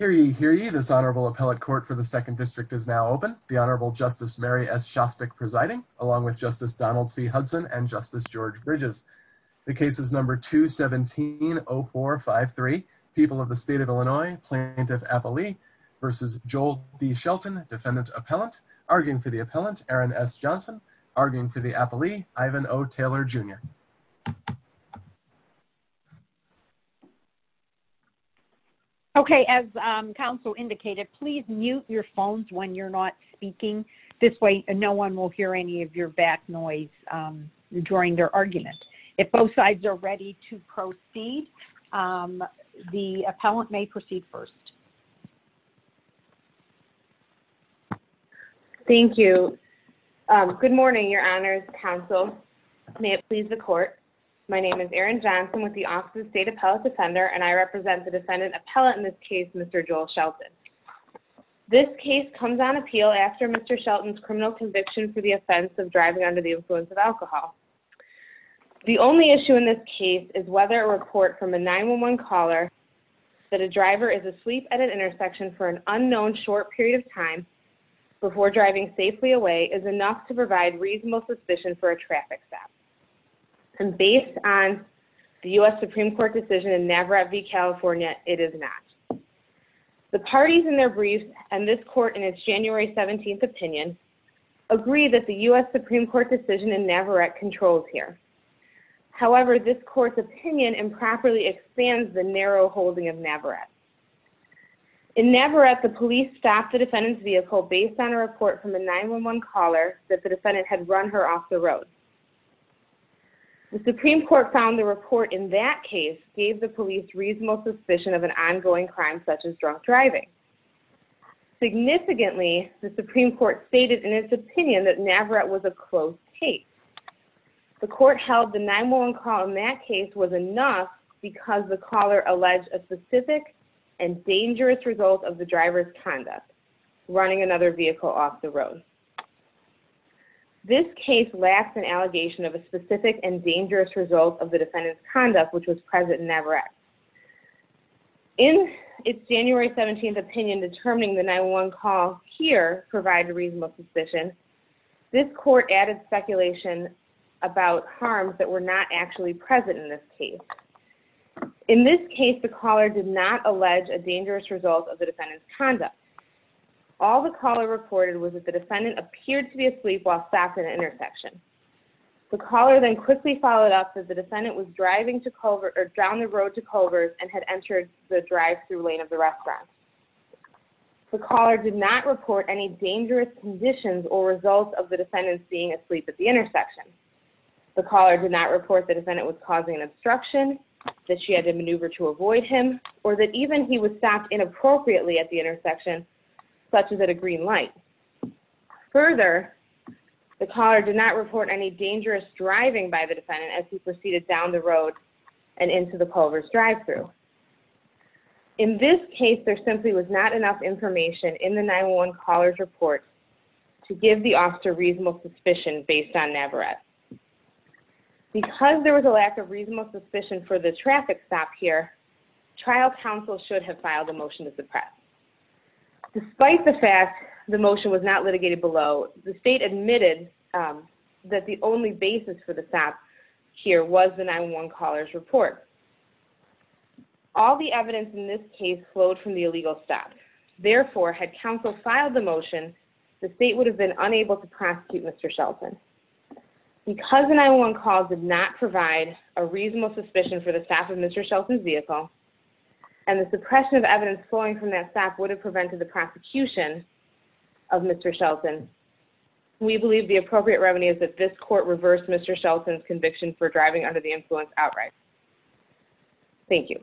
Hear ye, hear ye, this Honorable Appellate Court for the 2nd District is now open. The Honorable Justice Mary S. Shostak presiding, along with Justice Donald C. Hudson and Justice George Bridges. The case is number 2170453, People of the State of Illinois, Plaintiff Appellee v. Joel D. Shelton, Defendant Appellant. Arguing for the Appellant, Aaron S. Johnson. Arguing for the Appellee, Ivan O. Taylor, Jr. Okay, as counsel indicated, please mute your phones when you're not speaking. This way, no one will hear any of your back noise during their argument. If both sides are ready to proceed, the Appellant may proceed first. Thank you. Good morning, Your Honors, counsel. May it please the Court. My name is Erin Johnson with the Office of the State Appellate Defender, and I represent the Defendant Appellant in this case, Mr. Joel Shelton. This case comes on appeal after Mr. Shelton's criminal conviction for the offense of driving under the influence of alcohol. The only issue in this case is whether a report from a 911 caller that a driver is asleep at an intersection for an unknown short period of time before driving safely away is enough to provide reasonable suspicion for a traffic stop. And based on the U.S. Supreme Court decision in Navarrete v. California, it is not. The parties in their briefs and this Court in its January 17th opinion agree that the U.S. Supreme Court decision in Navarrete controls here. However, this Court's opinion improperly expands the narrow holding of Navarrete. In Navarrete, the police stopped the Defendant's vehicle based on a report from a 911 caller that the Defendant had run her off the road. The Supreme Court found the report in that case gave the police reasonable suspicion of an ongoing crime such as drunk driving. Significantly, the Supreme Court stated in its opinion that Navarrete was a closed case. The Court held the 911 call in that case was enough because the caller alleged a specific and dangerous result of the Driver's conduct, running another vehicle off the road. This case lacks an allegation of a specific and dangerous result of the Defendant's conduct which was present in Navarrete. In its January 17th opinion determining the 911 call here provided reasonable suspicion, this Court added speculation about harms that were not actually present in this case. In this case, the caller did not allege a dangerous result of the Defendant's conduct. All the caller reported was that the Defendant appeared to be asleep while stopped at an intersection. The caller then quickly followed up that the Defendant was driving down the road to Culver's and had entered the drive-thru lane of the restaurant. The caller did not report any dangerous conditions or results of the Defendant being asleep at the intersection. The caller did not report the Defendant was causing an obstruction, that she had to maneuver to avoid him, or that even he was stopped inappropriately at the intersection such as at a green light. Further, the caller did not report any dangerous driving by the Defendant as he proceeded down the road and into the Culver's drive-thru. In this case, there simply was not enough information in the 911 caller's report to give the officer reasonable suspicion based on NAVARETTE. Because there was a lack of reasonable suspicion for the traffic stop here, trial counsel should have filed a motion to suppress. Despite the fact the motion was not litigated below, the State admitted that the only basis for the stop here was the 911 caller's report. All the evidence in this case flowed from the illegal stop. Therefore, had counsel filed the motion, the State would have been unable to prosecute Mr. Shelton. Because the 911 calls did not provide a reasonable suspicion for the stop of Mr. Shelton's vehicle, and the suppression of evidence flowing from that stop would have prevented the prosecution of Mr. Shelton, we believe the appropriate remedy is that this court reverse Mr. Shelton's conviction for driving under the influence outright. Thank you.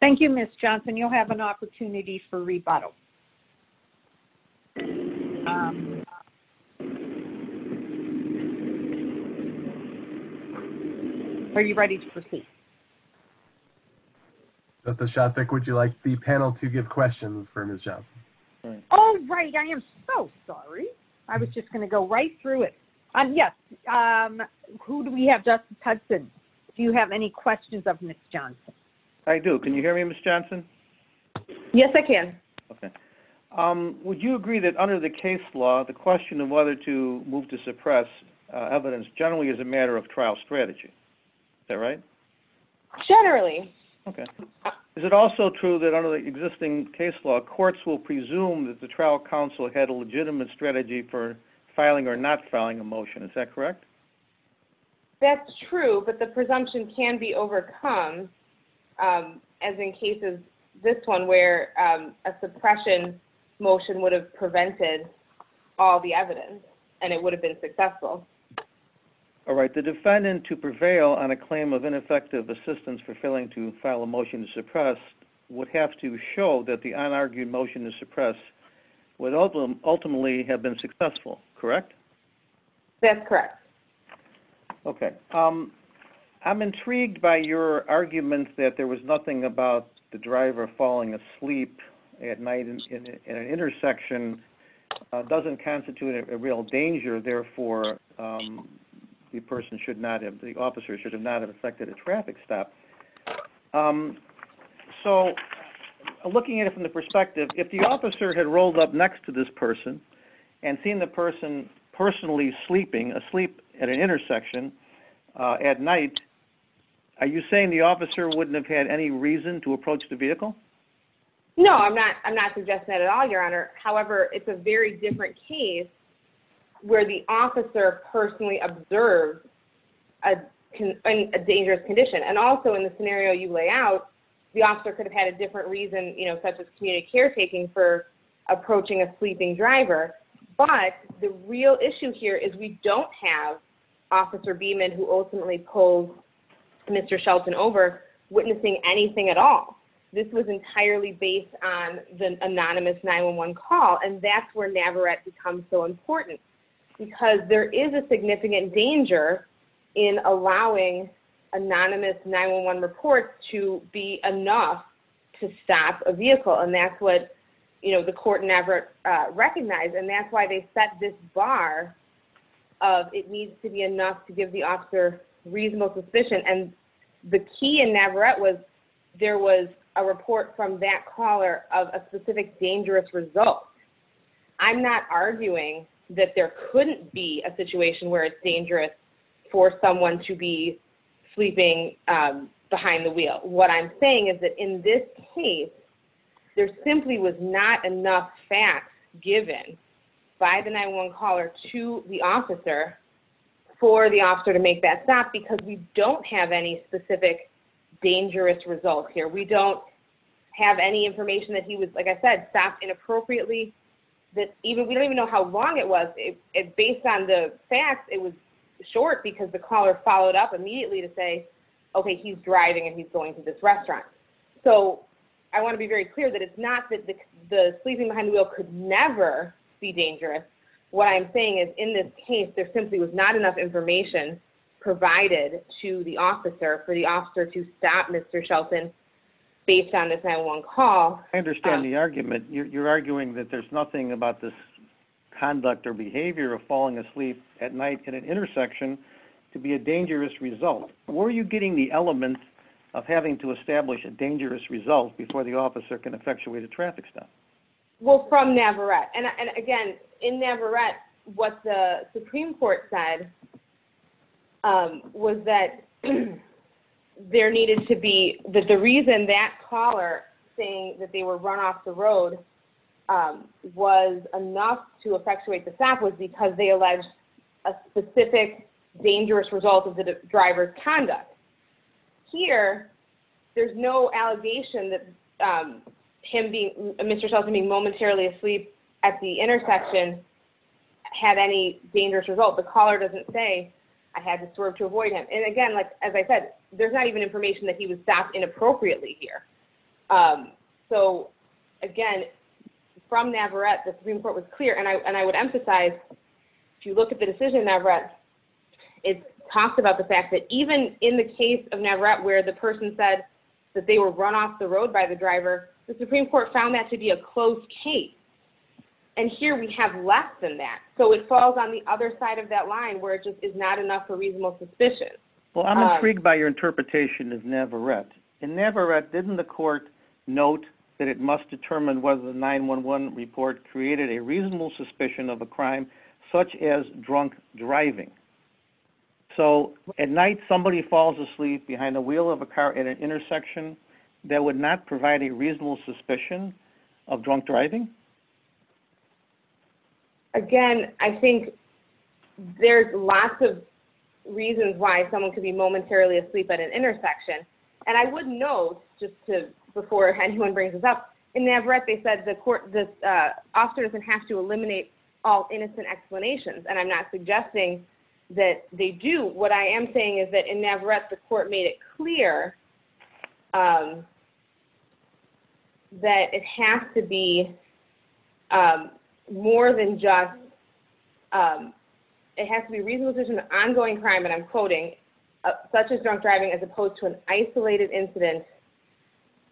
Thank you, Ms. Johnson. You'll have an opportunity for rebuttal. Are you ready to proceed? Justice Shostak, would you like the panel to give questions for Ms. Johnson? Oh, right. I am so sorry. I was just going to go right through it. Yes. Who do we have? Justice Hudson, do you have any questions of Ms. Johnson? I do. Can you hear me, Ms. Johnson? Yes, I can. Okay. Would you agree that under the case law, the question of whether to move to suppress evidence generally is a matter of trial strategy? Is that right? Generally. Okay. Is it also true that under the existing case law, courts will presume that the trial counsel had a legitimate strategy for filing or not filing a motion? Is that correct? That's true, but the presumption can be overcome, as in cases, this one, where a suppression motion would have prevented all the evidence, and it would have been successful. All right. The defendant to prevail on a claim of ineffective assistance for failing to file a motion to suppress would have to show that the unargued motion to suppress would ultimately have been successful, correct? That's correct. Okay. I'm intrigued by your argument that there was nothing about the driver falling asleep at night at an intersection doesn't constitute a real danger. Therefore, the officer should not have affected a traffic stop. So, looking at it from the perspective, if the officer had rolled up next to this person and seen the person personally sleeping asleep at an intersection at night, are you saying the officer wouldn't have had any reason to approach the vehicle? No, I'm not suggesting that at all, Your Honor. However, it's a very different case where the officer personally observed a dangerous condition. And also, in the scenario you lay out, the officer could have had a different reason, such as community caretaking, for approaching a sleeping driver. But the real issue here is we don't have Officer Beeman, who ultimately pulled Mr. Shelton over, witnessing anything at all. This was entirely based on the anonymous 911 call. And that's where NAVARETTE becomes so important. Because there is a significant danger in allowing anonymous 911 reports to be enough to stop a vehicle. And that's what the court in NAVARETTE recognized. And that's why they set this bar of it needs to be enough to give the officer reasonable suspicion. And the key in NAVARETTE was there was a report from that caller of a specific dangerous result. I'm not arguing that there couldn't be a situation where it's dangerous for someone to be sleeping behind the wheel. What I'm saying is that in this case, there simply was not enough facts given by the 911 caller to the officer for the officer to make that stop. Because we don't have any specific dangerous results here. We don't have any information that he was, like I said, stopped inappropriately. We don't even know how long it was. Based on the facts, it was short because the caller followed up immediately to say, okay, he's driving and he's going to this restaurant. So I want to be very clear that it's not that the sleeping behind the wheel could never be dangerous. What I'm saying is in this case, there simply was not enough information provided to the officer for the officer to stop Mr. Shelton based on this 911 call. I understand the argument. You're arguing that there's nothing about this conduct or behavior of falling asleep at night at an intersection to be a dangerous result. Where are you getting the element of having to establish a dangerous result before the officer can effectuate a traffic stop? Well, from NAVARETTE. And again, in NAVARETTE, what the Supreme Court said was that there needed to be, that the reason that caller saying that they were run off the road was enough to effectuate the stop was because they alleged a specific dangerous result of the driver's conduct. Here, there's no allegation that Mr. Shelton being momentarily asleep at the intersection had any dangerous result. The caller doesn't say, I had to swerve to avoid him. And again, as I said, there's not even information that he was stopped inappropriately here. So again, from NAVARETTE, the Supreme Court was clear. And I would emphasize, if you look at the decision in NAVARETTE, it talks about the case of NAVARETTE where the person said that they were run off the road by the driver. The Supreme Court found that to be a closed case. And here, we have less than that. So it falls on the other side of that line where it just is not enough for reasonable suspicion. Well, I'm intrigued by your interpretation of NAVARETTE. In NAVARETTE, didn't the court note that it must determine whether the 911 report created a reasonable suspicion of a crime such as drunk driving? So at night, somebody falls asleep behind the wheel of a car at an intersection that would not provide a reasonable suspicion of drunk driving? Again, I think there's lots of reasons why someone could be momentarily asleep at an intersection. And I would note, just before anyone brings this up, in NAVARETTE, they said the officer doesn't have to eliminate all innocent explanations. And I'm not suggesting that they do. What I am saying is that in NAVARETTE, the court made it clear that it has to be more than just – it has to be a reasonable suspicion of ongoing crime, and I'm quoting, such as drunk driving as opposed to an isolated incident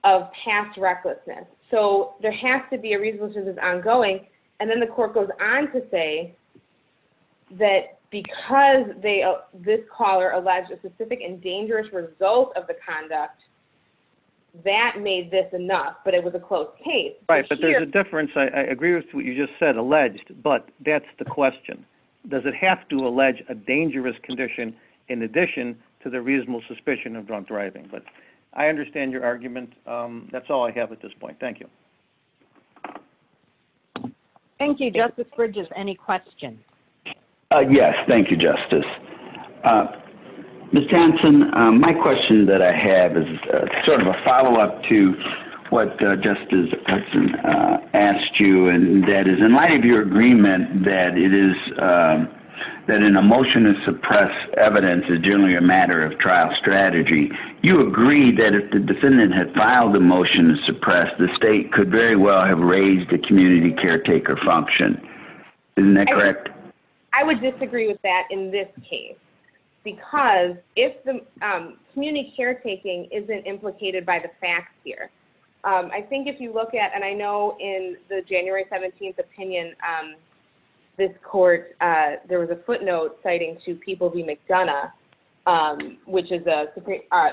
of past recklessness. So there has to be a reasonable suspicion that's ongoing. And then the court goes on to say that because this caller alleged a specific and dangerous result of the conduct, that made this enough, but it was a closed case. Right, but there's a difference. I agree with what you just said, alleged, but that's the question. Does it have to allege a dangerous condition in addition to the reasonable suspicion of drunk driving? But I understand your argument. That's all I have at this point. Thank you. Thank you. Justice Bridges, any questions? Yes, thank you, Justice. Ms. Townsend, my question that I have is sort of a follow-up to what Justice Hudson asked you, and that is, in light of your agreement that it is – that an emotion to suppress evidence is generally a matter of trial strategy, you agree that if the defendant had filed a motion to suppress, the state could very well have raised a community caretaker function. Isn't that correct? I would disagree with that in this case. Because if the community caretaking isn't implicated by the facts here, I think if you look at – and I know in the January 17th opinion, this court, there was a footnote citing to People v. McDonough, which is an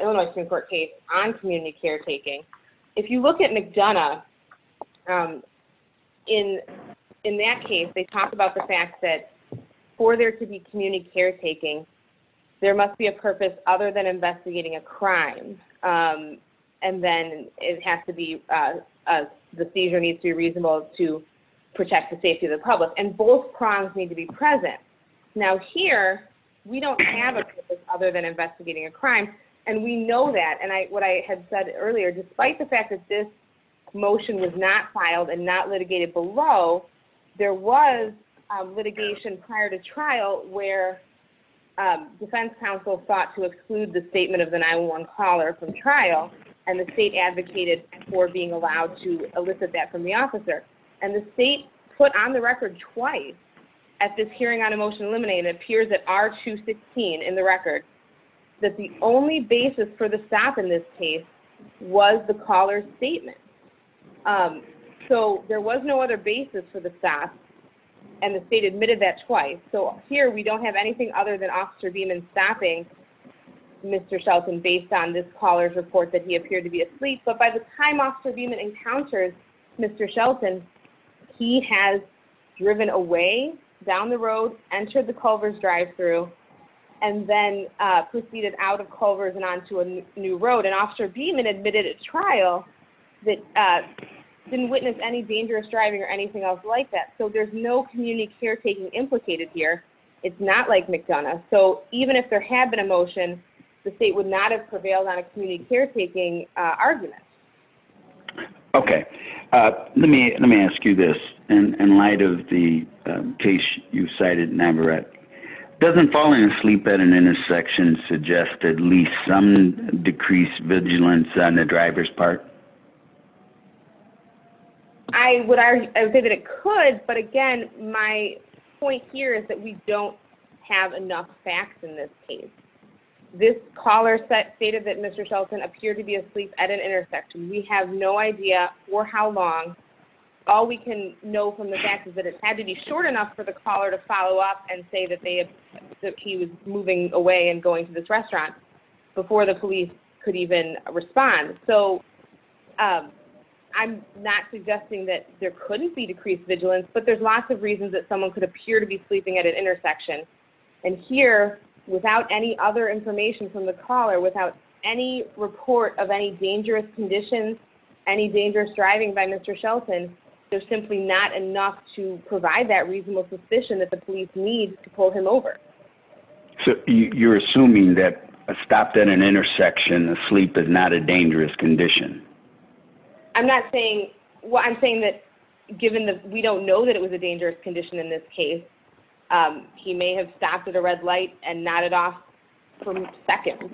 Illinois Supreme Court case on community caretaking. If you look at McDonough, in that case, they talked about the fact that for there to be community caretaking, there must be a purpose other than investigating a crime. And then it has to be – the seizure needs to be reasonable to protect the safety of the public. And both prongs need to be present. Now, here, we don't have a purpose other than investigating a crime. And we know that. And what I had said earlier, despite the fact that this motion was not filed and not litigated below, there was litigation prior to trial where defense counsel sought to exclude the statement of the 911 caller from trial, and the state advocated for being allowed to elicit that from the officer. And the state put on the record twice at this hearing on Emotion Eliminated, it appears at R216 in the record, that the only basis for the stop in this case was the caller's statement. So, there was no other basis for the stop, and the state admitted that twice. So, here, we don't have anything other than Officer Beeman stopping Mr. Shelton based on this caller's report that he appeared to be asleep. But by the time Officer Beeman encounters Mr. Shelton, he has driven away, down the road, entered the Culver's drive-thru, and then proceeded out of Culver's and onto a new road. And Officer Beeman admitted at trial that he didn't witness any dangerous driving or anything else like that. So, there's no community caretaking implicated here. It's not like McDonough. So, even if there had been a motion, the state would not have prevailed on a community caretaking argument. Okay. Let me ask you this. In light of the case you cited in Aberrett, doesn't falling asleep at an intersection suggest at least some decreased vigilance on the driver's part? I would say that it could, but again, my point here is that we don't have enough facts in this case. This caller stated that Mr. Shelton appeared to be asleep at an intersection. We have no idea for how long. All we can know from the fact is that it had to be short enough for the caller to follow up and say that he was moving away and going to this restaurant before the police could even respond. So, I'm not suggesting that there couldn't be decreased vigilance, but there's lots of reasons that someone could appear to be sleeping at an intersection. And here, without any other information from the caller, without any report of any dangerous conditions, any dangerous driving by Mr. Shelton, there's simply not enough to provide that reasonable suspicion that the police need to pull him over. So, you're assuming that a stop at an intersection, a sleep, is not a dangerous condition? I'm not saying, well, I'm saying that given that we don't know that it was a dangerous condition in this case, he may have stopped at a red light and nodded off for a second.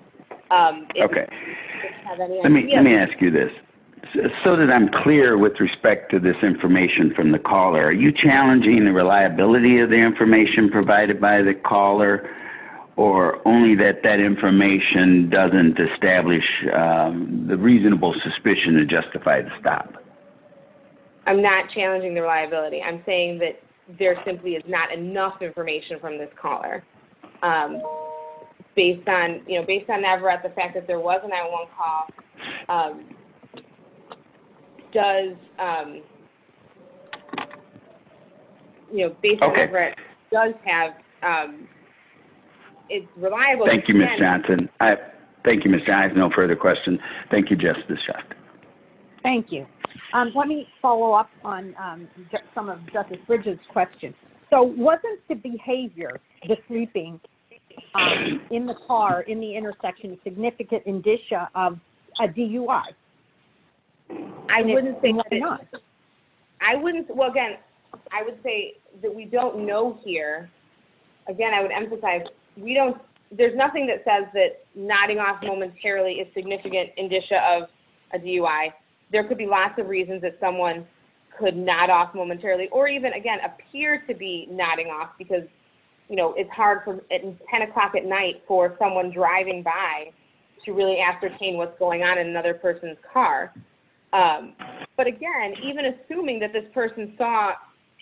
Okay. Let me ask you this. So that I'm clear with respect to this information from the caller, are you challenging the reliability of the information provided by the caller, or only that that information doesn't establish the reasonable suspicion to justify the stop? I'm not challenging the reliability. I'm saying that there simply is not enough information from this caller. Based on Navarat, the fact that there was an 911 call, does, you know, based on Navarat, does have, it's reliable. Thank you, Ms. Johnson. Thank you, Ms. Gynes. No further questions. Thank you, Justice Johnson. Thank you. Let me follow up on some of Justice Bridges' questions. So wasn't the behavior, the sleeping, in the car, in the intersection, a significant indicia of a DUI? I wouldn't say it was not. I wouldn't, well, again, I would say that we don't know here. Again, I would emphasize, we don't, there's nothing that says that nodding off momentarily is significant indicia of a DUI. There could be lots of reasons that someone could nod off momentarily or even, again, appear to be nodding off because, you know, it's hard from 10 o'clock at night for someone driving by to really ascertain what's going on in another person's car. But again, even assuming that this person saw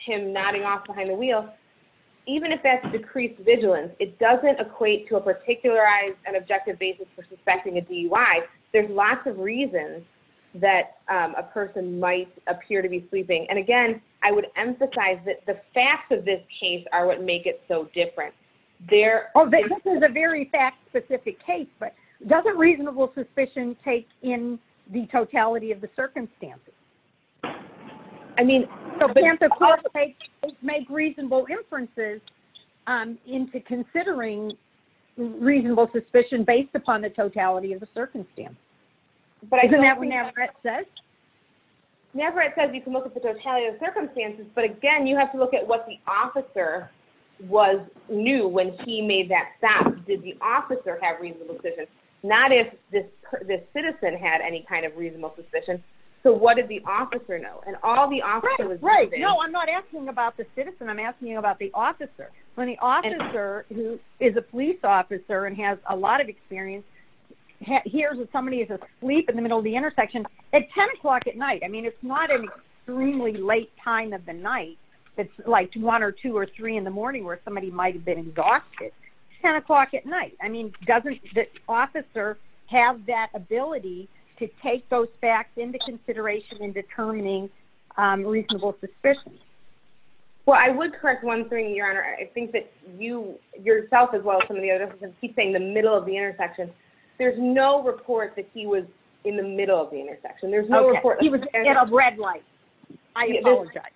him nodding off behind the wheel, even if that's decreased vigilance, it doesn't equate to a particularized and objective basis for suspecting a DUI. There's lots of reasons that a person might appear to be sleeping. And again, I would emphasize that the facts of this case are what make it so different. This is a very fact-specific case, but doesn't reasonable suspicion take in the totality of the circumstances? I mean, it makes reasonable inferences into considering reasonable suspicion based upon the totality of the circumstance. But I don't think that... Isn't that what Navarette says? Navarette says you can look at the totality of the circumstances, but again, you have to look at what the officer knew when he made that stop. Did the officer have reasonable suspicion? Not if this citizen had any kind of reasonable suspicion. So what did the officer know? And all the officer was... Right, right. No, I'm not asking about the citizen. I'm asking you about the officer. When the officer, who is a police officer and has a lot of experience, hears that somebody is asleep in the middle of the intersection at 10 o'clock at night. I mean, it's not an extremely late time of the night. It's like 1 or 2 or 3 in the morning where somebody might have been exhausted. 10 o'clock at night. I mean, doesn't the officer have that ability to take those facts into consideration in determining reasonable suspicion? Well, I would correct one thing, Your Honor. I think that you, yourself, as well as some of the others, keep saying the middle of the intersection. There's no report that he was in the middle of the intersection. Okay. He was in a red light. I apologize.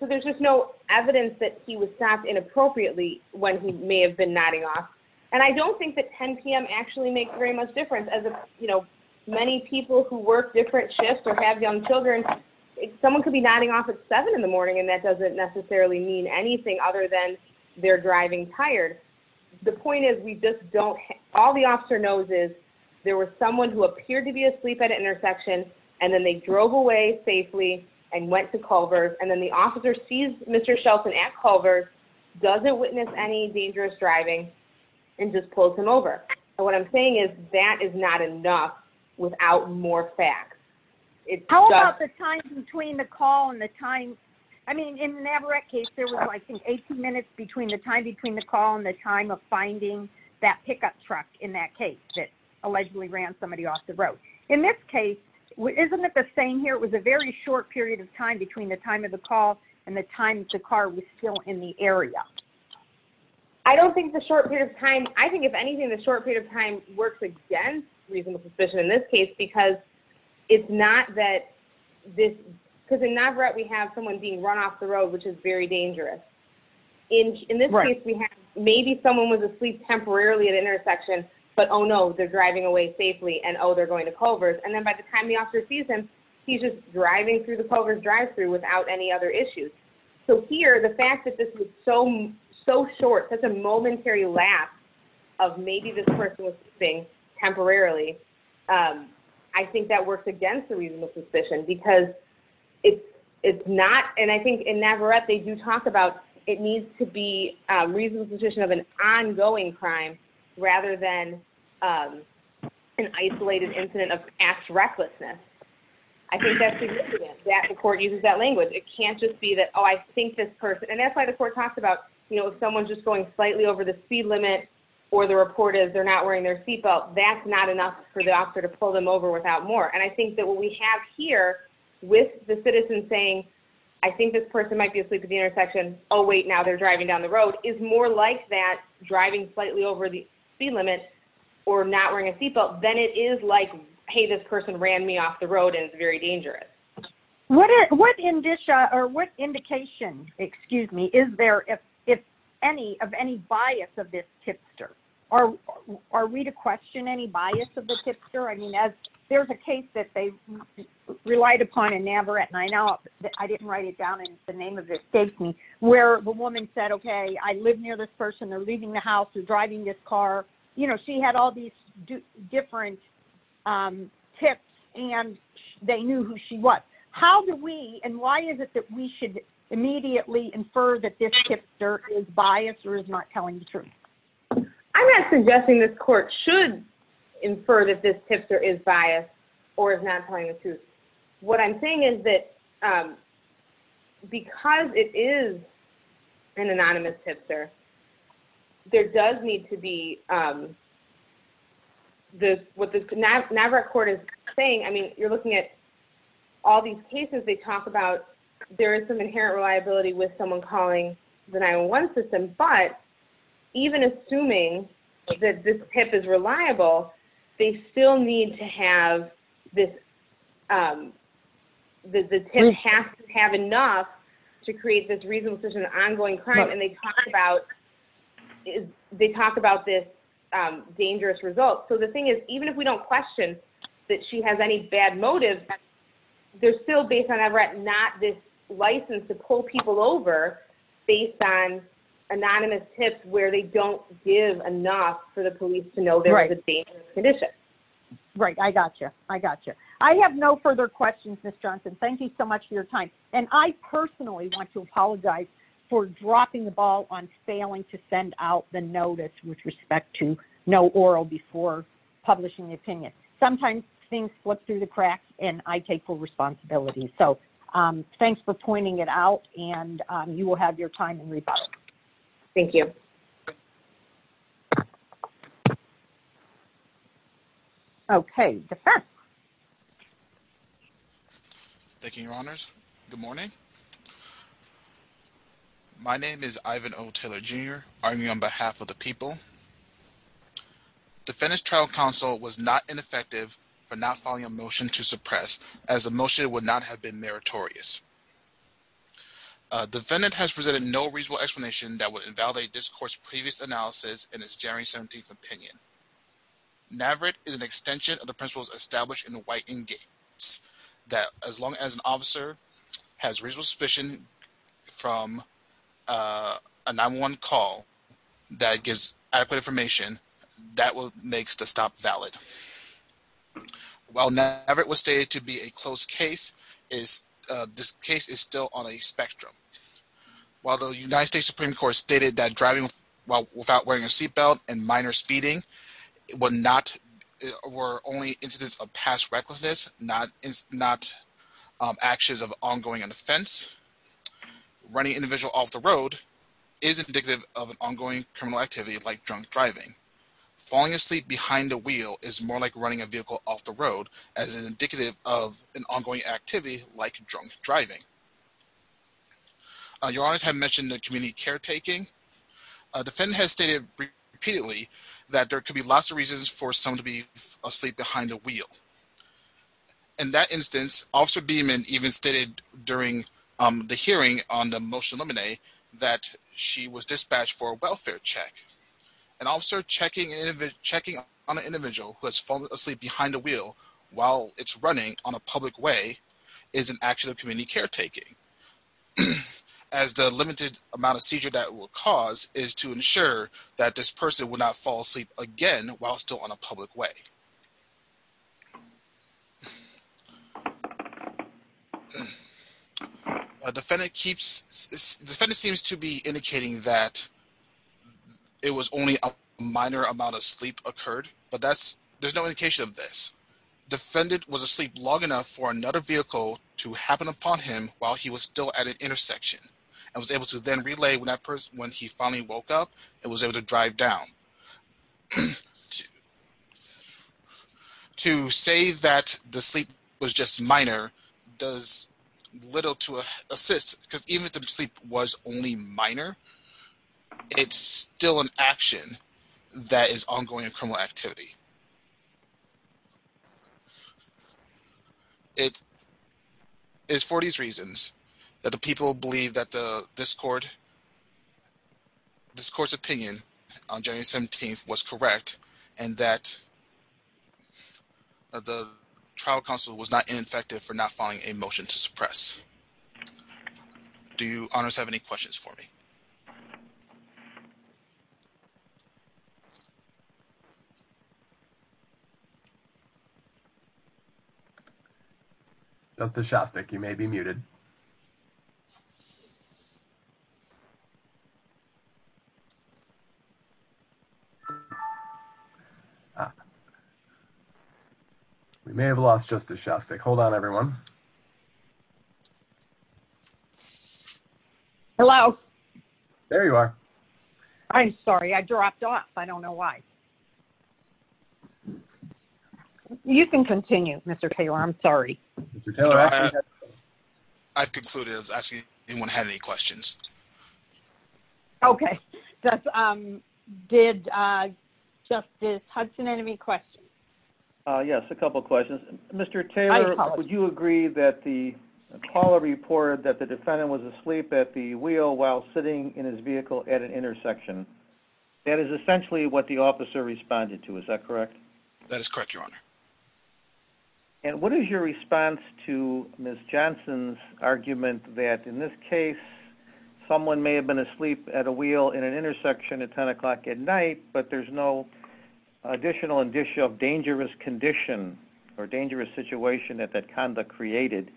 So there's just no evidence that he was stopped inappropriately when he may have been nodding off. And I don't think that 10 p.m. actually makes very much difference. As many people who work different shifts or have young children, someone could be nodding off at 7 in the morning, and that doesn't necessarily mean anything other than they're driving tired. The point is we just don't – all the officer knows is there was someone who appeared to be asleep at an intersection, and then they drove away safely and went to Culver's, and then the officer sees Mr. Shelton at Culver's, doesn't witness any dangerous driving, and just pulls him over. What I'm saying is that is not enough without more facts. How about the time between the call and the time – I mean, in the Navarrete case, there was, I think, 18 minutes between the time between the call and the time of finding that pickup truck in that case that allegedly ran somebody off the road. In this case, isn't it the same here? It was a very short period of time between the time of the call and the time the car was still in the area. I don't think the short period of time – I think if anything, the short period of time works against reasonable suspicion in this case because it's not that this – because in Navarrete, we have someone being run off the road, which is very dangerous. In this case, we have maybe someone was asleep temporarily at an intersection, but oh no, they're driving away safely, and oh, they're going to Culver's. And then by the time the officer sees him, he's just driving through the Culver's drive-through without any other issues. So here, the fact that this was so short, such a momentary lapse of maybe this person was sleeping temporarily, I think that works against the reasonable suspicion because it's not – and I think in Navarrete, they do talk about it needs to be reasonable suspicion of an ongoing crime rather than an isolated incident of act recklessness. I think that's significant that the court uses that language. It can't just be that, oh, I think this person – and that's why the court talks about, you know, if someone's just going slightly over the speed limit or the report is they're not wearing their seatbelt, that's not enough for the officer to pull them over without more. And I think that what we have here with the citizen saying, I think this person might be asleep at the intersection, oh wait, now they're driving down the road, is more like that driving slightly over the speed limit or not wearing a seatbelt than it is like, hey, this person ran me off the road and it's very dangerous. What indication, excuse me, is there of any bias of this tipster? Are we to question any bias of the tipster? I mean, there's a case that they relied upon in Navarrete, and I know I didn't write it down and the name of it escapes me, where the woman said, okay, I live near this person, they're leaving the house, they're driving this car. You know, she had all these different tips and they knew who she was. How do we, and why is it that we should immediately infer that this tipster is biased or is not telling the truth? I'm not suggesting this court should infer that this tipster is biased or is not telling the truth. What I'm saying is that because it is an anonymous tipster, there does need to be, what the Navarrete court is saying, I mean, you're looking at all these cases they talk about, there is some inherent reliability with someone calling the 911 system, but even assuming that this tip is reliable, they still need to have this, the tip has to have enough to create this reasonable suspicion of ongoing crime, and they talk about this dangerous result. So the thing is, even if we don't question that she has any bad motives, they're still based on Navarrete not this license to pull people over based on anonymous tips where they don't give enough for the police to know there's a dangerous condition. Right. I gotcha. I gotcha. I have no further questions, Ms. Johnson. Thank you so much for your time. And I personally want to apologize for dropping the ball on failing to send out the notice with respect to no oral before publishing the opinion. Sometimes things slip through the cracks and I take full responsibility. So thanks for pointing it out and you will have your time in rebuttal. Thank you. Okay. Thank you, Your Honors. Good morning. My name is Ivan O. Taylor, Jr. Arguing on behalf of the people. Defendant's trial counsel was not ineffective for not filing a motion to suppress, as the motion would not have been meritorious. Defendant has presented no reasonable explanation that would invalidate this court's previous analysis in its January 17th opinion. Navarrete is an extension of the principles established in the White and Gates that as long as an officer has reasonable suspicion from a 911 call that gives adequate information, that makes the stop valid. While Navarrete was stated to be a closed case, this case is still on a spectrum. While the United States Supreme Court stated that driving without wearing a seatbelt and minor speeding were only incidents of past recklessness, not actions of ongoing offense, running an individual off the road is indicative of an ongoing criminal activity like drunk driving. Falling asleep behind a wheel is more like running a vehicle off the road as indicative of an ongoing activity like drunk driving. Your Honors have mentioned the community caretaking. Defendant has stated repeatedly that there could be lots of reasons for someone to be asleep behind a wheel. In that instance, Officer Beamon even stated during the hearing on the motion of limine that she was dispatched for a welfare check. An officer checking on an individual who has fallen asleep behind a wheel while it's running on a public way is an action of community caretaking, as the limited amount of seizure that it will cause is to ensure that this person will not fall asleep again while still on a public way. Defendant seems to be indicating that it was only a minor amount of sleep occurred, but there's no indication of this. Defendant was asleep long enough for another vehicle to happen upon him while he was still at an intersection and was able to then relay when he finally woke up and was able to drive down. To say that the sleep was just minor does little to assist, because even if the sleep was only minor, it's still an action that is ongoing in criminal activity. It is for these reasons that the people believe that this court's opinion on January 17th was correct and that the trial counsel was not ineffective for not filing a motion to suppress. Do you honors have any questions for me? Justice Shostak, you may be muted. Ah. We may have lost Justice Shostak. Hold on, everyone. Hello. There you are. I'm sorry. I dropped off. I don't know why. You can continue, Mr. Taylor. I'm sorry. Mr. Taylor. I've concluded. Actually, anyone have any questions? Okay. Did Justice Hudson have any questions? Yes, a couple of questions. Mr. Taylor, would you agree that the Apollo reported that the defendant was asleep at the wheel while sitting in his vehicle at an intersection? That is essentially what the officer responded to. Is that correct? That is correct, Your Honor. And what is your response to Ms. Johnson's argument that in this case, someone may have fallen asleep at a wheel in an intersection at 10 o'clock at night, but there's no additional indicia of dangerous condition or dangerous situation that that conduct created,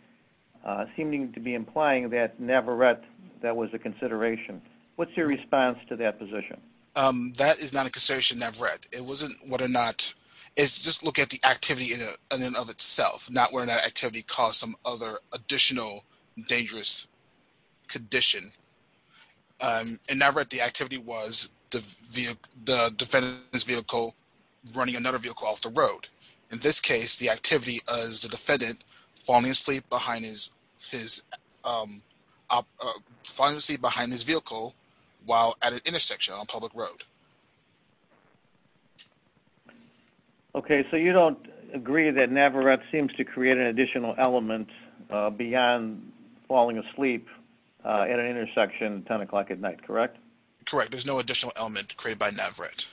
seeming to be implying that Navarrete, that was a consideration. What's your response to that position? That is not a consideration, Navarrete. It wasn't whether or not – it's just look at the activity in and of itself, not whether that activity caused some other additional dangerous condition. In Navarrete, the activity was the defendant in his vehicle running another vehicle off the road. In this case, the activity is the defendant falling asleep behind his vehicle while at an intersection on a public road. Okay, so you don't agree that Navarrete seems to create an additional element beyond falling asleep at an intersection at 10 o'clock at night, correct? Correct. There's no additional element created by Navarrete.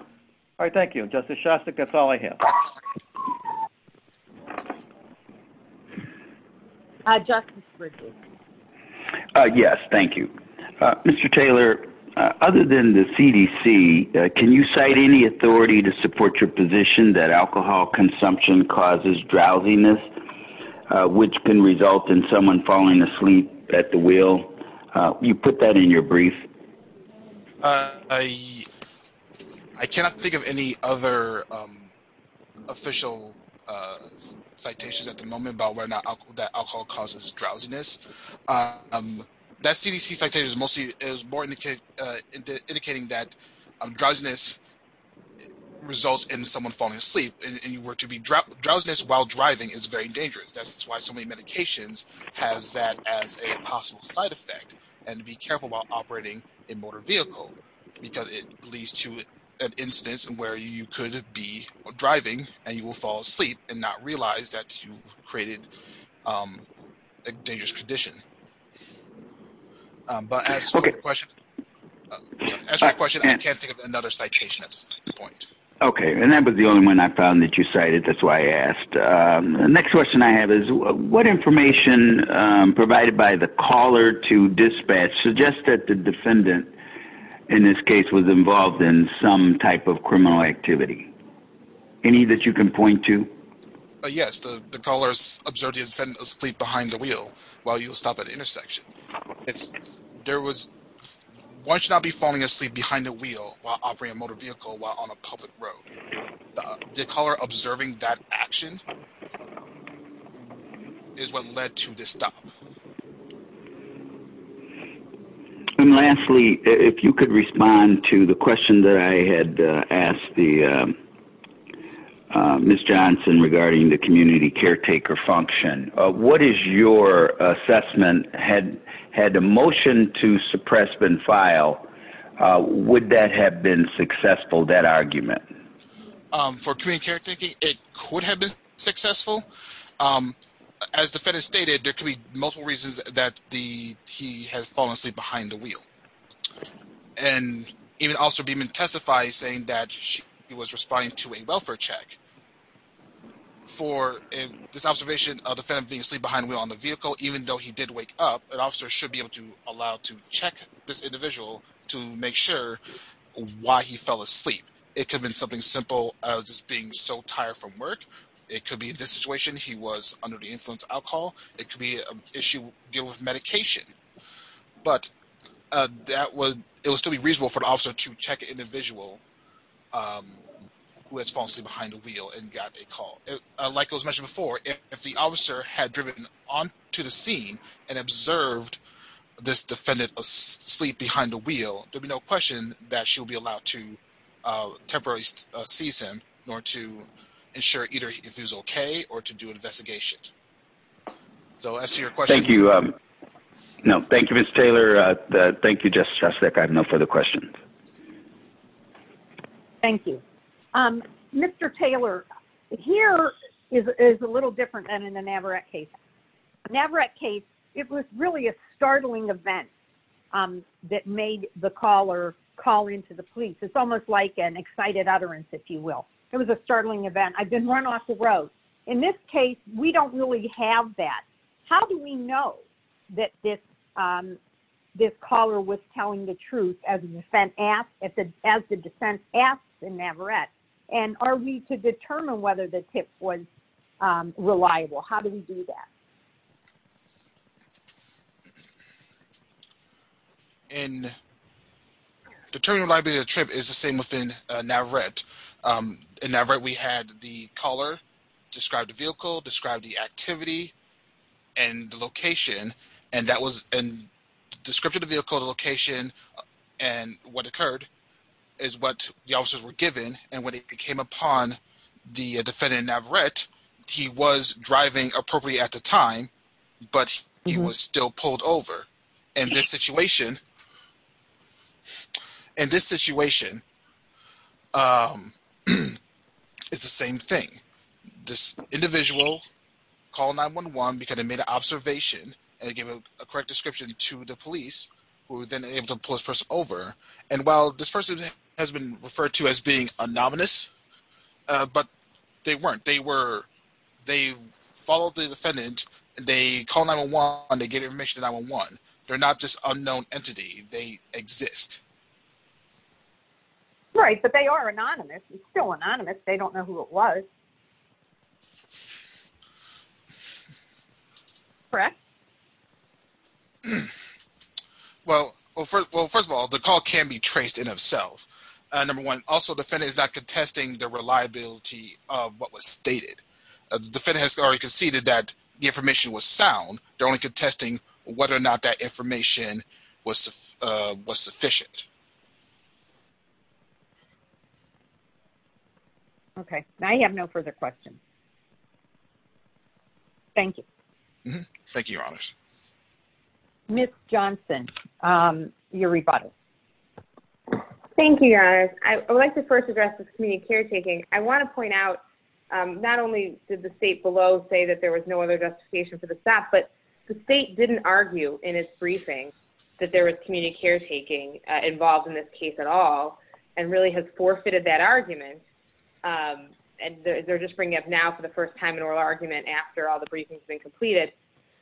All right, thank you. Justice Shostak, that's all I have. Justice Ritchie. Yes, thank you. Mr. Taylor, other than the CDC, can you cite any authority to support your position that falling asleep at the wheel, you put that in your brief? I cannot think of any other official citations at the moment about whether or not that alcohol causes drowsiness. That CDC citation is more indicating that drowsiness results in someone falling asleep, and drowsiness while driving is very dangerous. That's why so many medications have that as a possible side effect, and to be careful while operating a motor vehicle, because it leads to an instance where you could be driving and you will fall asleep and not realize that you've created a dangerous condition. But as for the question, I can't think of another citation at this point. Okay, and that was the only one I found that you cited. That's why I asked. The next question I have is, what information provided by the caller to dispatch suggests that the defendant in this case was involved in some type of criminal activity? Any that you can point to? Yes, the caller observed the defendant asleep behind the wheel while he was stopped at the intersection. Why should I be falling asleep behind the wheel while operating a motor vehicle while on a public road? The caller observing that action is what led to the stop. And lastly, if you could respond to the question that I had asked Ms. Johnson regarding the community caretaker function. What is your assessment? Had a motion to suppress been filed, would that have been successful, that argument? For community caretaker, it could have been successful. As the defendant stated, there could be multiple reasons that he has fallen asleep behind the wheel. And even Officer Beeman testified saying that he was responding to a welfare check. For this observation of the defendant being asleep behind the wheel on the vehicle, even though he did wake up, an officer should be able to allow to check this individual to make sure why he fell asleep. It could have been something simple as being so tired from work. It could be this situation. He was under the influence of alcohol. It could be an issue dealing with medication. But it would still be reasonable for an officer to check an individual who has fallen asleep behind the wheel and got a call. Like it was mentioned before, if the officer had driven onto the scene and observed this individual, he would not be able to temporarily seize him, nor to ensure either if he was okay or to do an investigation. So as to your question... Thank you. No, thank you, Mr. Taylor. Thank you, Justice Shostak. I have no further questions. Thank you. Mr. Taylor, here is a little different than in the Navarrete case. Navarrete case, it was really a startling event that made the caller call into the police. It's almost like an excited utterance, if you will. It was a startling event. I've been run off the road. In this case, we don't really have that. How do we know that this caller was telling the truth as the defense asked in Navarrete? And are we to determine whether the tip was reliable? How do we do that? In determining the reliability of the tip is the same within Navarrete. In Navarrete, we had the caller describe the vehicle, describe the activity, and the location. And that was in the description of the vehicle, the location, and what occurred is what the officers were given. And when it came upon the defendant in Navarrete, he was driving appropriately at the time, but he was still pulled over. In this situation, in this situation, it's the same thing. This individual called 911 because they made an observation and gave a correct description to the police, who were then able to pull this person over. And while this person has been referred to as being a nominous, but they weren't. They followed the defendant. They called 911. They gave information to 911. They're not just an unknown entity. They exist. Right, but they are anonymous. It's still anonymous. They don't know who it was. Correct? Well, first of all, the call can be traced in itself. Number one, also, the defendant is not contesting the reliability of what was stated. The defendant has already conceded that the information was sound. They're only contesting whether or not that information was sufficient. Okay, I have no further questions. Thank you. Thank you, Your Honors. Ms. Johnson, your rebuttal. Thank you, Your Honors. I would like to first address this community caretaking. I want to point out, not only did the state below say that there was no other justification for the stop, but the state didn't argue in its briefing that there was community caretaking involved in this case at all, and really has forfeited that argument. And they're just bringing up now for the first time an oral argument after all the briefings have been completed.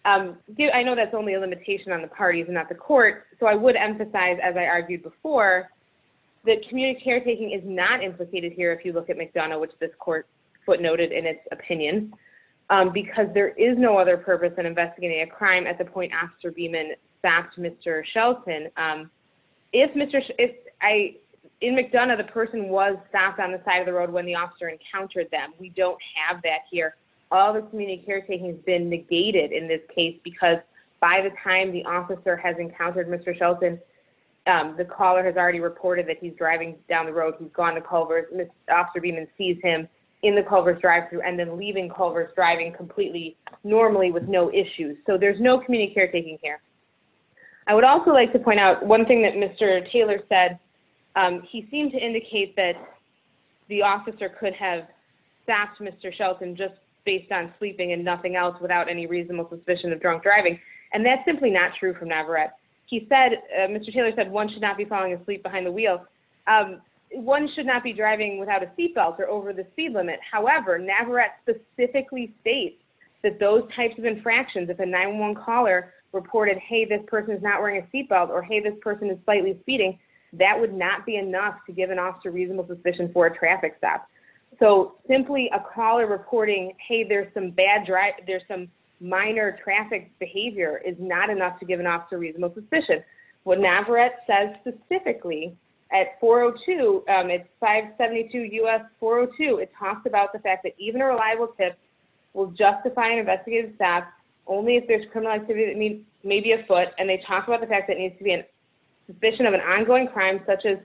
I know that's only a limitation on the parties and not the court, so I would emphasize, as I argued before, that community caretaking is not implicated here, if you look at McDonough, which this court footnoted in its opinion, because there is no other purpose in investigating a crime at the point Officer Beeman stopped Mr. Shelton. In McDonough, the person was stopped on the side of the road when the officer encountered them. We don't have that here. All the community caretaking has been negated in this case, because by the time the officer has encountered Mr. Shelton, the caller has already reported that he's driving down the road. He's gone to Culver's. Officer Beeman sees him in the Culver's drive-thru and then leaving Culver's driving completely normally with no issues. So there's no community caretaking here. I would also like to point out one thing that Mr. Taylor said. He seemed to indicate that the officer could have stopped Mr. Shelton just based on sleeping and nothing else without any reasonable suspicion of drunk driving. And that's simply not true from Navarette. He said, Mr. Taylor said, one should not be falling asleep behind the wheels. One should not be driving without a seatbelt or over the speed limit. However, Navarette specifically states that those types of infractions, if a 911 caller reported, hey, this person is not wearing a seatbelt or, hey, this person is slightly speeding, that would not be enough to give an officer reasonable suspicion for a traffic stop. So simply a caller reporting, hey, there's some minor traffic behavior is not enough to give an officer reasonable suspicion. What Navarette says specifically at 402, it's 572 U.S. 402, it talks about the fact that even a reliable tip will justify an investigative staff only if there's criminal activity that may be afoot. And they talk about the fact that it needs to be a suspicion of an ongoing crime such as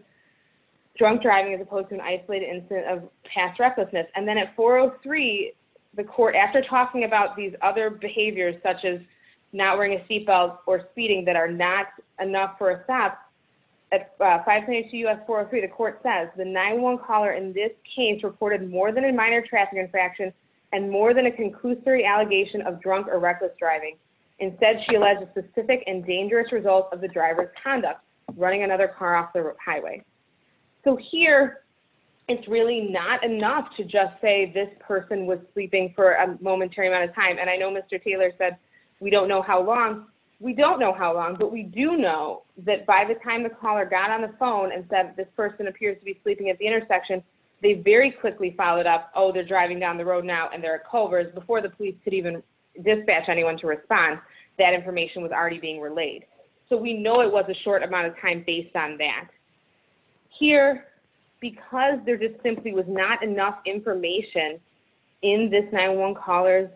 drunk driving as opposed to an isolated incident of past recklessness. And then at 403, the court, after talking about these other behaviors such as not wearing a seatbelt or speeding that are not enough for a stop, at 522 U.S. 403, the court says the 911 caller in this case reported more than a minor traffic infraction and more than a conclusory allegation of drunk or reckless driving. Instead, she alleged a specific and dangerous result of the driver's conduct, running another car off the highway. So here, it's really not enough to just say this person was sleeping for a momentary amount of time. And I know Mr. Taylor said we don't know how long. We don't know how long, but we do know that by the time the caller got on the phone and said this person appears to be sleeping at the intersection, they very quickly followed up, oh, they're driving down the road now and they're at Culver's, before the police could even dispatch anyone to respond, that information was already being relayed. So we know it was a short amount of time based on that. Here, because there just simply was not enough information in this 911 caller's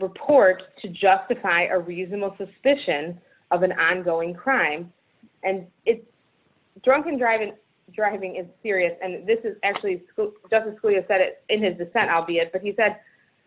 report to justify a reasonable suspicion of an ongoing crime, and drunken driving is serious, and this is actually, Justice Scalia said it in his dissent, albeit, but he said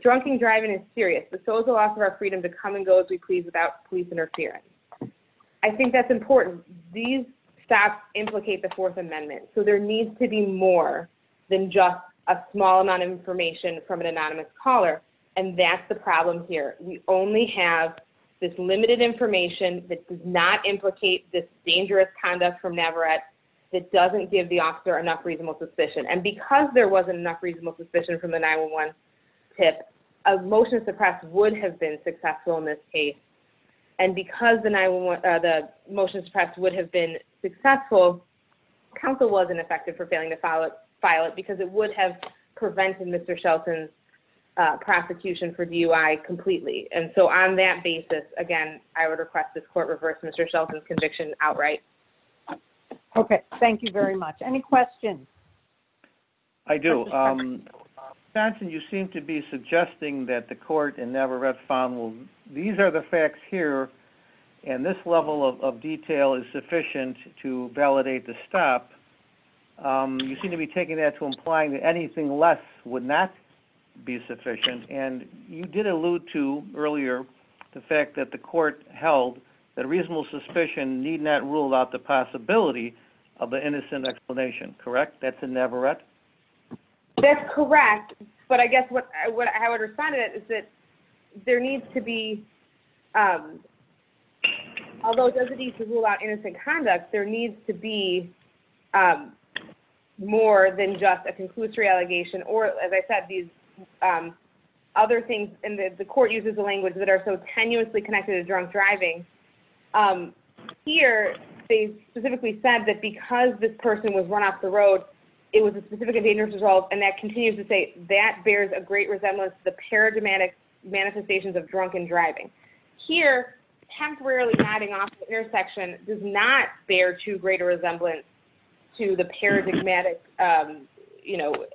drunken driving is serious, but so is the loss of our freedom to come and go as we please without police interfering. I think that's important. These stops implicate the Fourth Amendment. So there needs to be more than just a small amount of information from an anonymous caller, and that's the problem here. We only have this limited information that does not implicate this dangerous conduct from Navarrete that doesn't give the officer enough reasonable suspicion. And because there wasn't enough reasonable suspicion from the 911 tip, a motion to suppress would have been successful in this case. And because the motion to suppress would have been successful, counsel wasn't effective for failing to file it because it would have prevented Mr. Shelton's prosecution for DUI completely. And so on that basis, again, I would request this court reverse Mr. Shelton's conviction outright. Okay. Thank you very much. Any questions? I do. Johnson, you seem to be suggesting that the court in Navarrete found these are the facts here, and this level of detail is sufficient to validate the stop. You seem to be taking that to imply that anything less would not be sufficient, and you did allude to earlier the fact that the court held that reasonable suspicion need not rule out the possibility of an innocent explanation. Correct? That's in Navarrete? That's correct, but I guess how I would respond to that is that there needs to be, although it doesn't need to rule out innocent conduct, there needs to be more than just a conclusory allegation, or as I said, these other things, and the court uses a language that are so tenuously connected to drunk driving. Here, they specifically said that because this person was run off the road, it was a specific and dangerous result, and that continues to say that bears a great resemblance to the paradigmatic manifestations of drunken driving. Here, temporarily nodding off the intersection does not bear too great a resemblance to the paradigmatic, you know,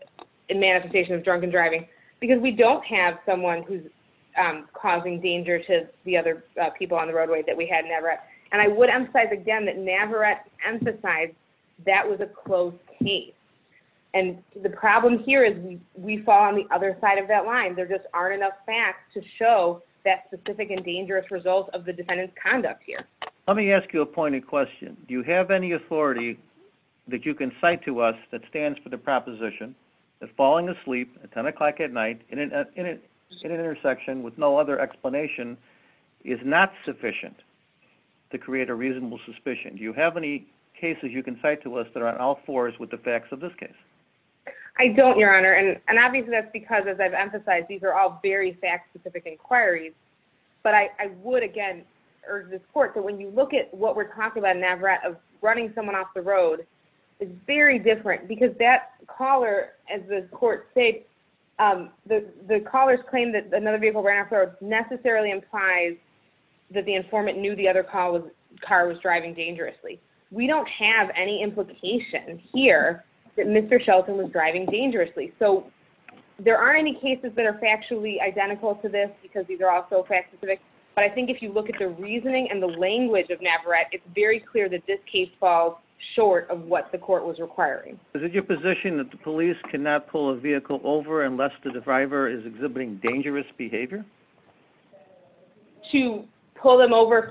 manifestation of drunken driving, because we don't have someone who's causing danger to the other people on the roadway that we had in Navarrete, and I would emphasize again that Navarrete emphasized that was a closed case, and the problem here is we fall on the other side of that line. There just aren't enough facts to show that specific and dangerous result of the defendant's conduct here. Let me ask you a pointed question. Do you have any authority that you can cite to us that stands for the proposition that falling asleep at 10 o'clock at night in an intersection with no other explanation is not sufficient? To create a reasonable suspicion, do you have any cases you can cite to us that are on all fours with the facts of this case? I don't, Your Honor, and obviously that's because, as I've emphasized, these are all very fact-specific inquiries, but I would again urge this court that when you look at what we're talking about in Navarrete of running someone off the road, it's very different, because that caller, as the court states, the caller's claim that another vehicle ran off the road necessarily implies that the informant knew the other car was driving dangerously. We don't have any implication here that Mr. Shelton was driving dangerously, so there aren't any cases that are factually identical to this because these are all so fact-specific, but I think if you look at the reasoning and the language of Navarrete, it's very clear that this case falls short of what the court was requiring. Is it your position that the police cannot pull a vehicle over unless the driver is exhibiting dangerous behavior? To pull them over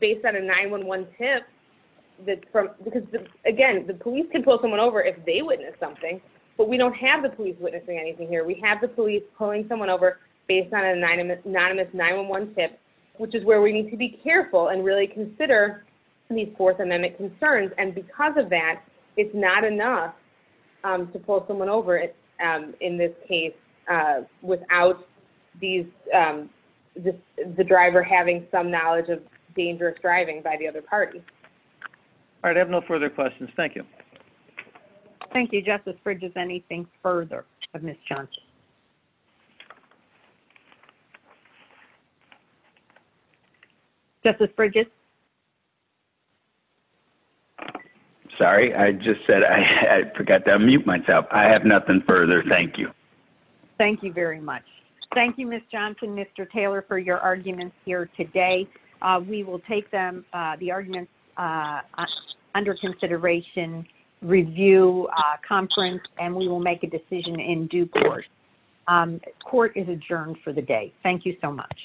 based on a 9-1-1 tip, because again, the police can pull someone over if they witness something, but we don't have the police witnessing anything here. We have the police pulling someone over based on an anonymous 9-1-1 tip, which is where we need to be careful and really consider these Fourth Amendment concerns, and because of that, it's not enough to pull someone over in this case without the driver having some knowledge of dangerous driving by the other party. All right, I have no further questions. Thank you. Thank you. Justice Bridges, anything further of Ms. Johnson? Justice Bridges? Sorry, I just said I forgot to unmute myself. I have nothing further. Thank you. Thank you very much. Thank you, Ms. Johnson, Mr. Taylor, for your arguments here today. We will take the arguments under consideration, review, conference, and we will make a decision in due course. Court is adjourned for the day. Thank you so much.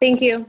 Thank you.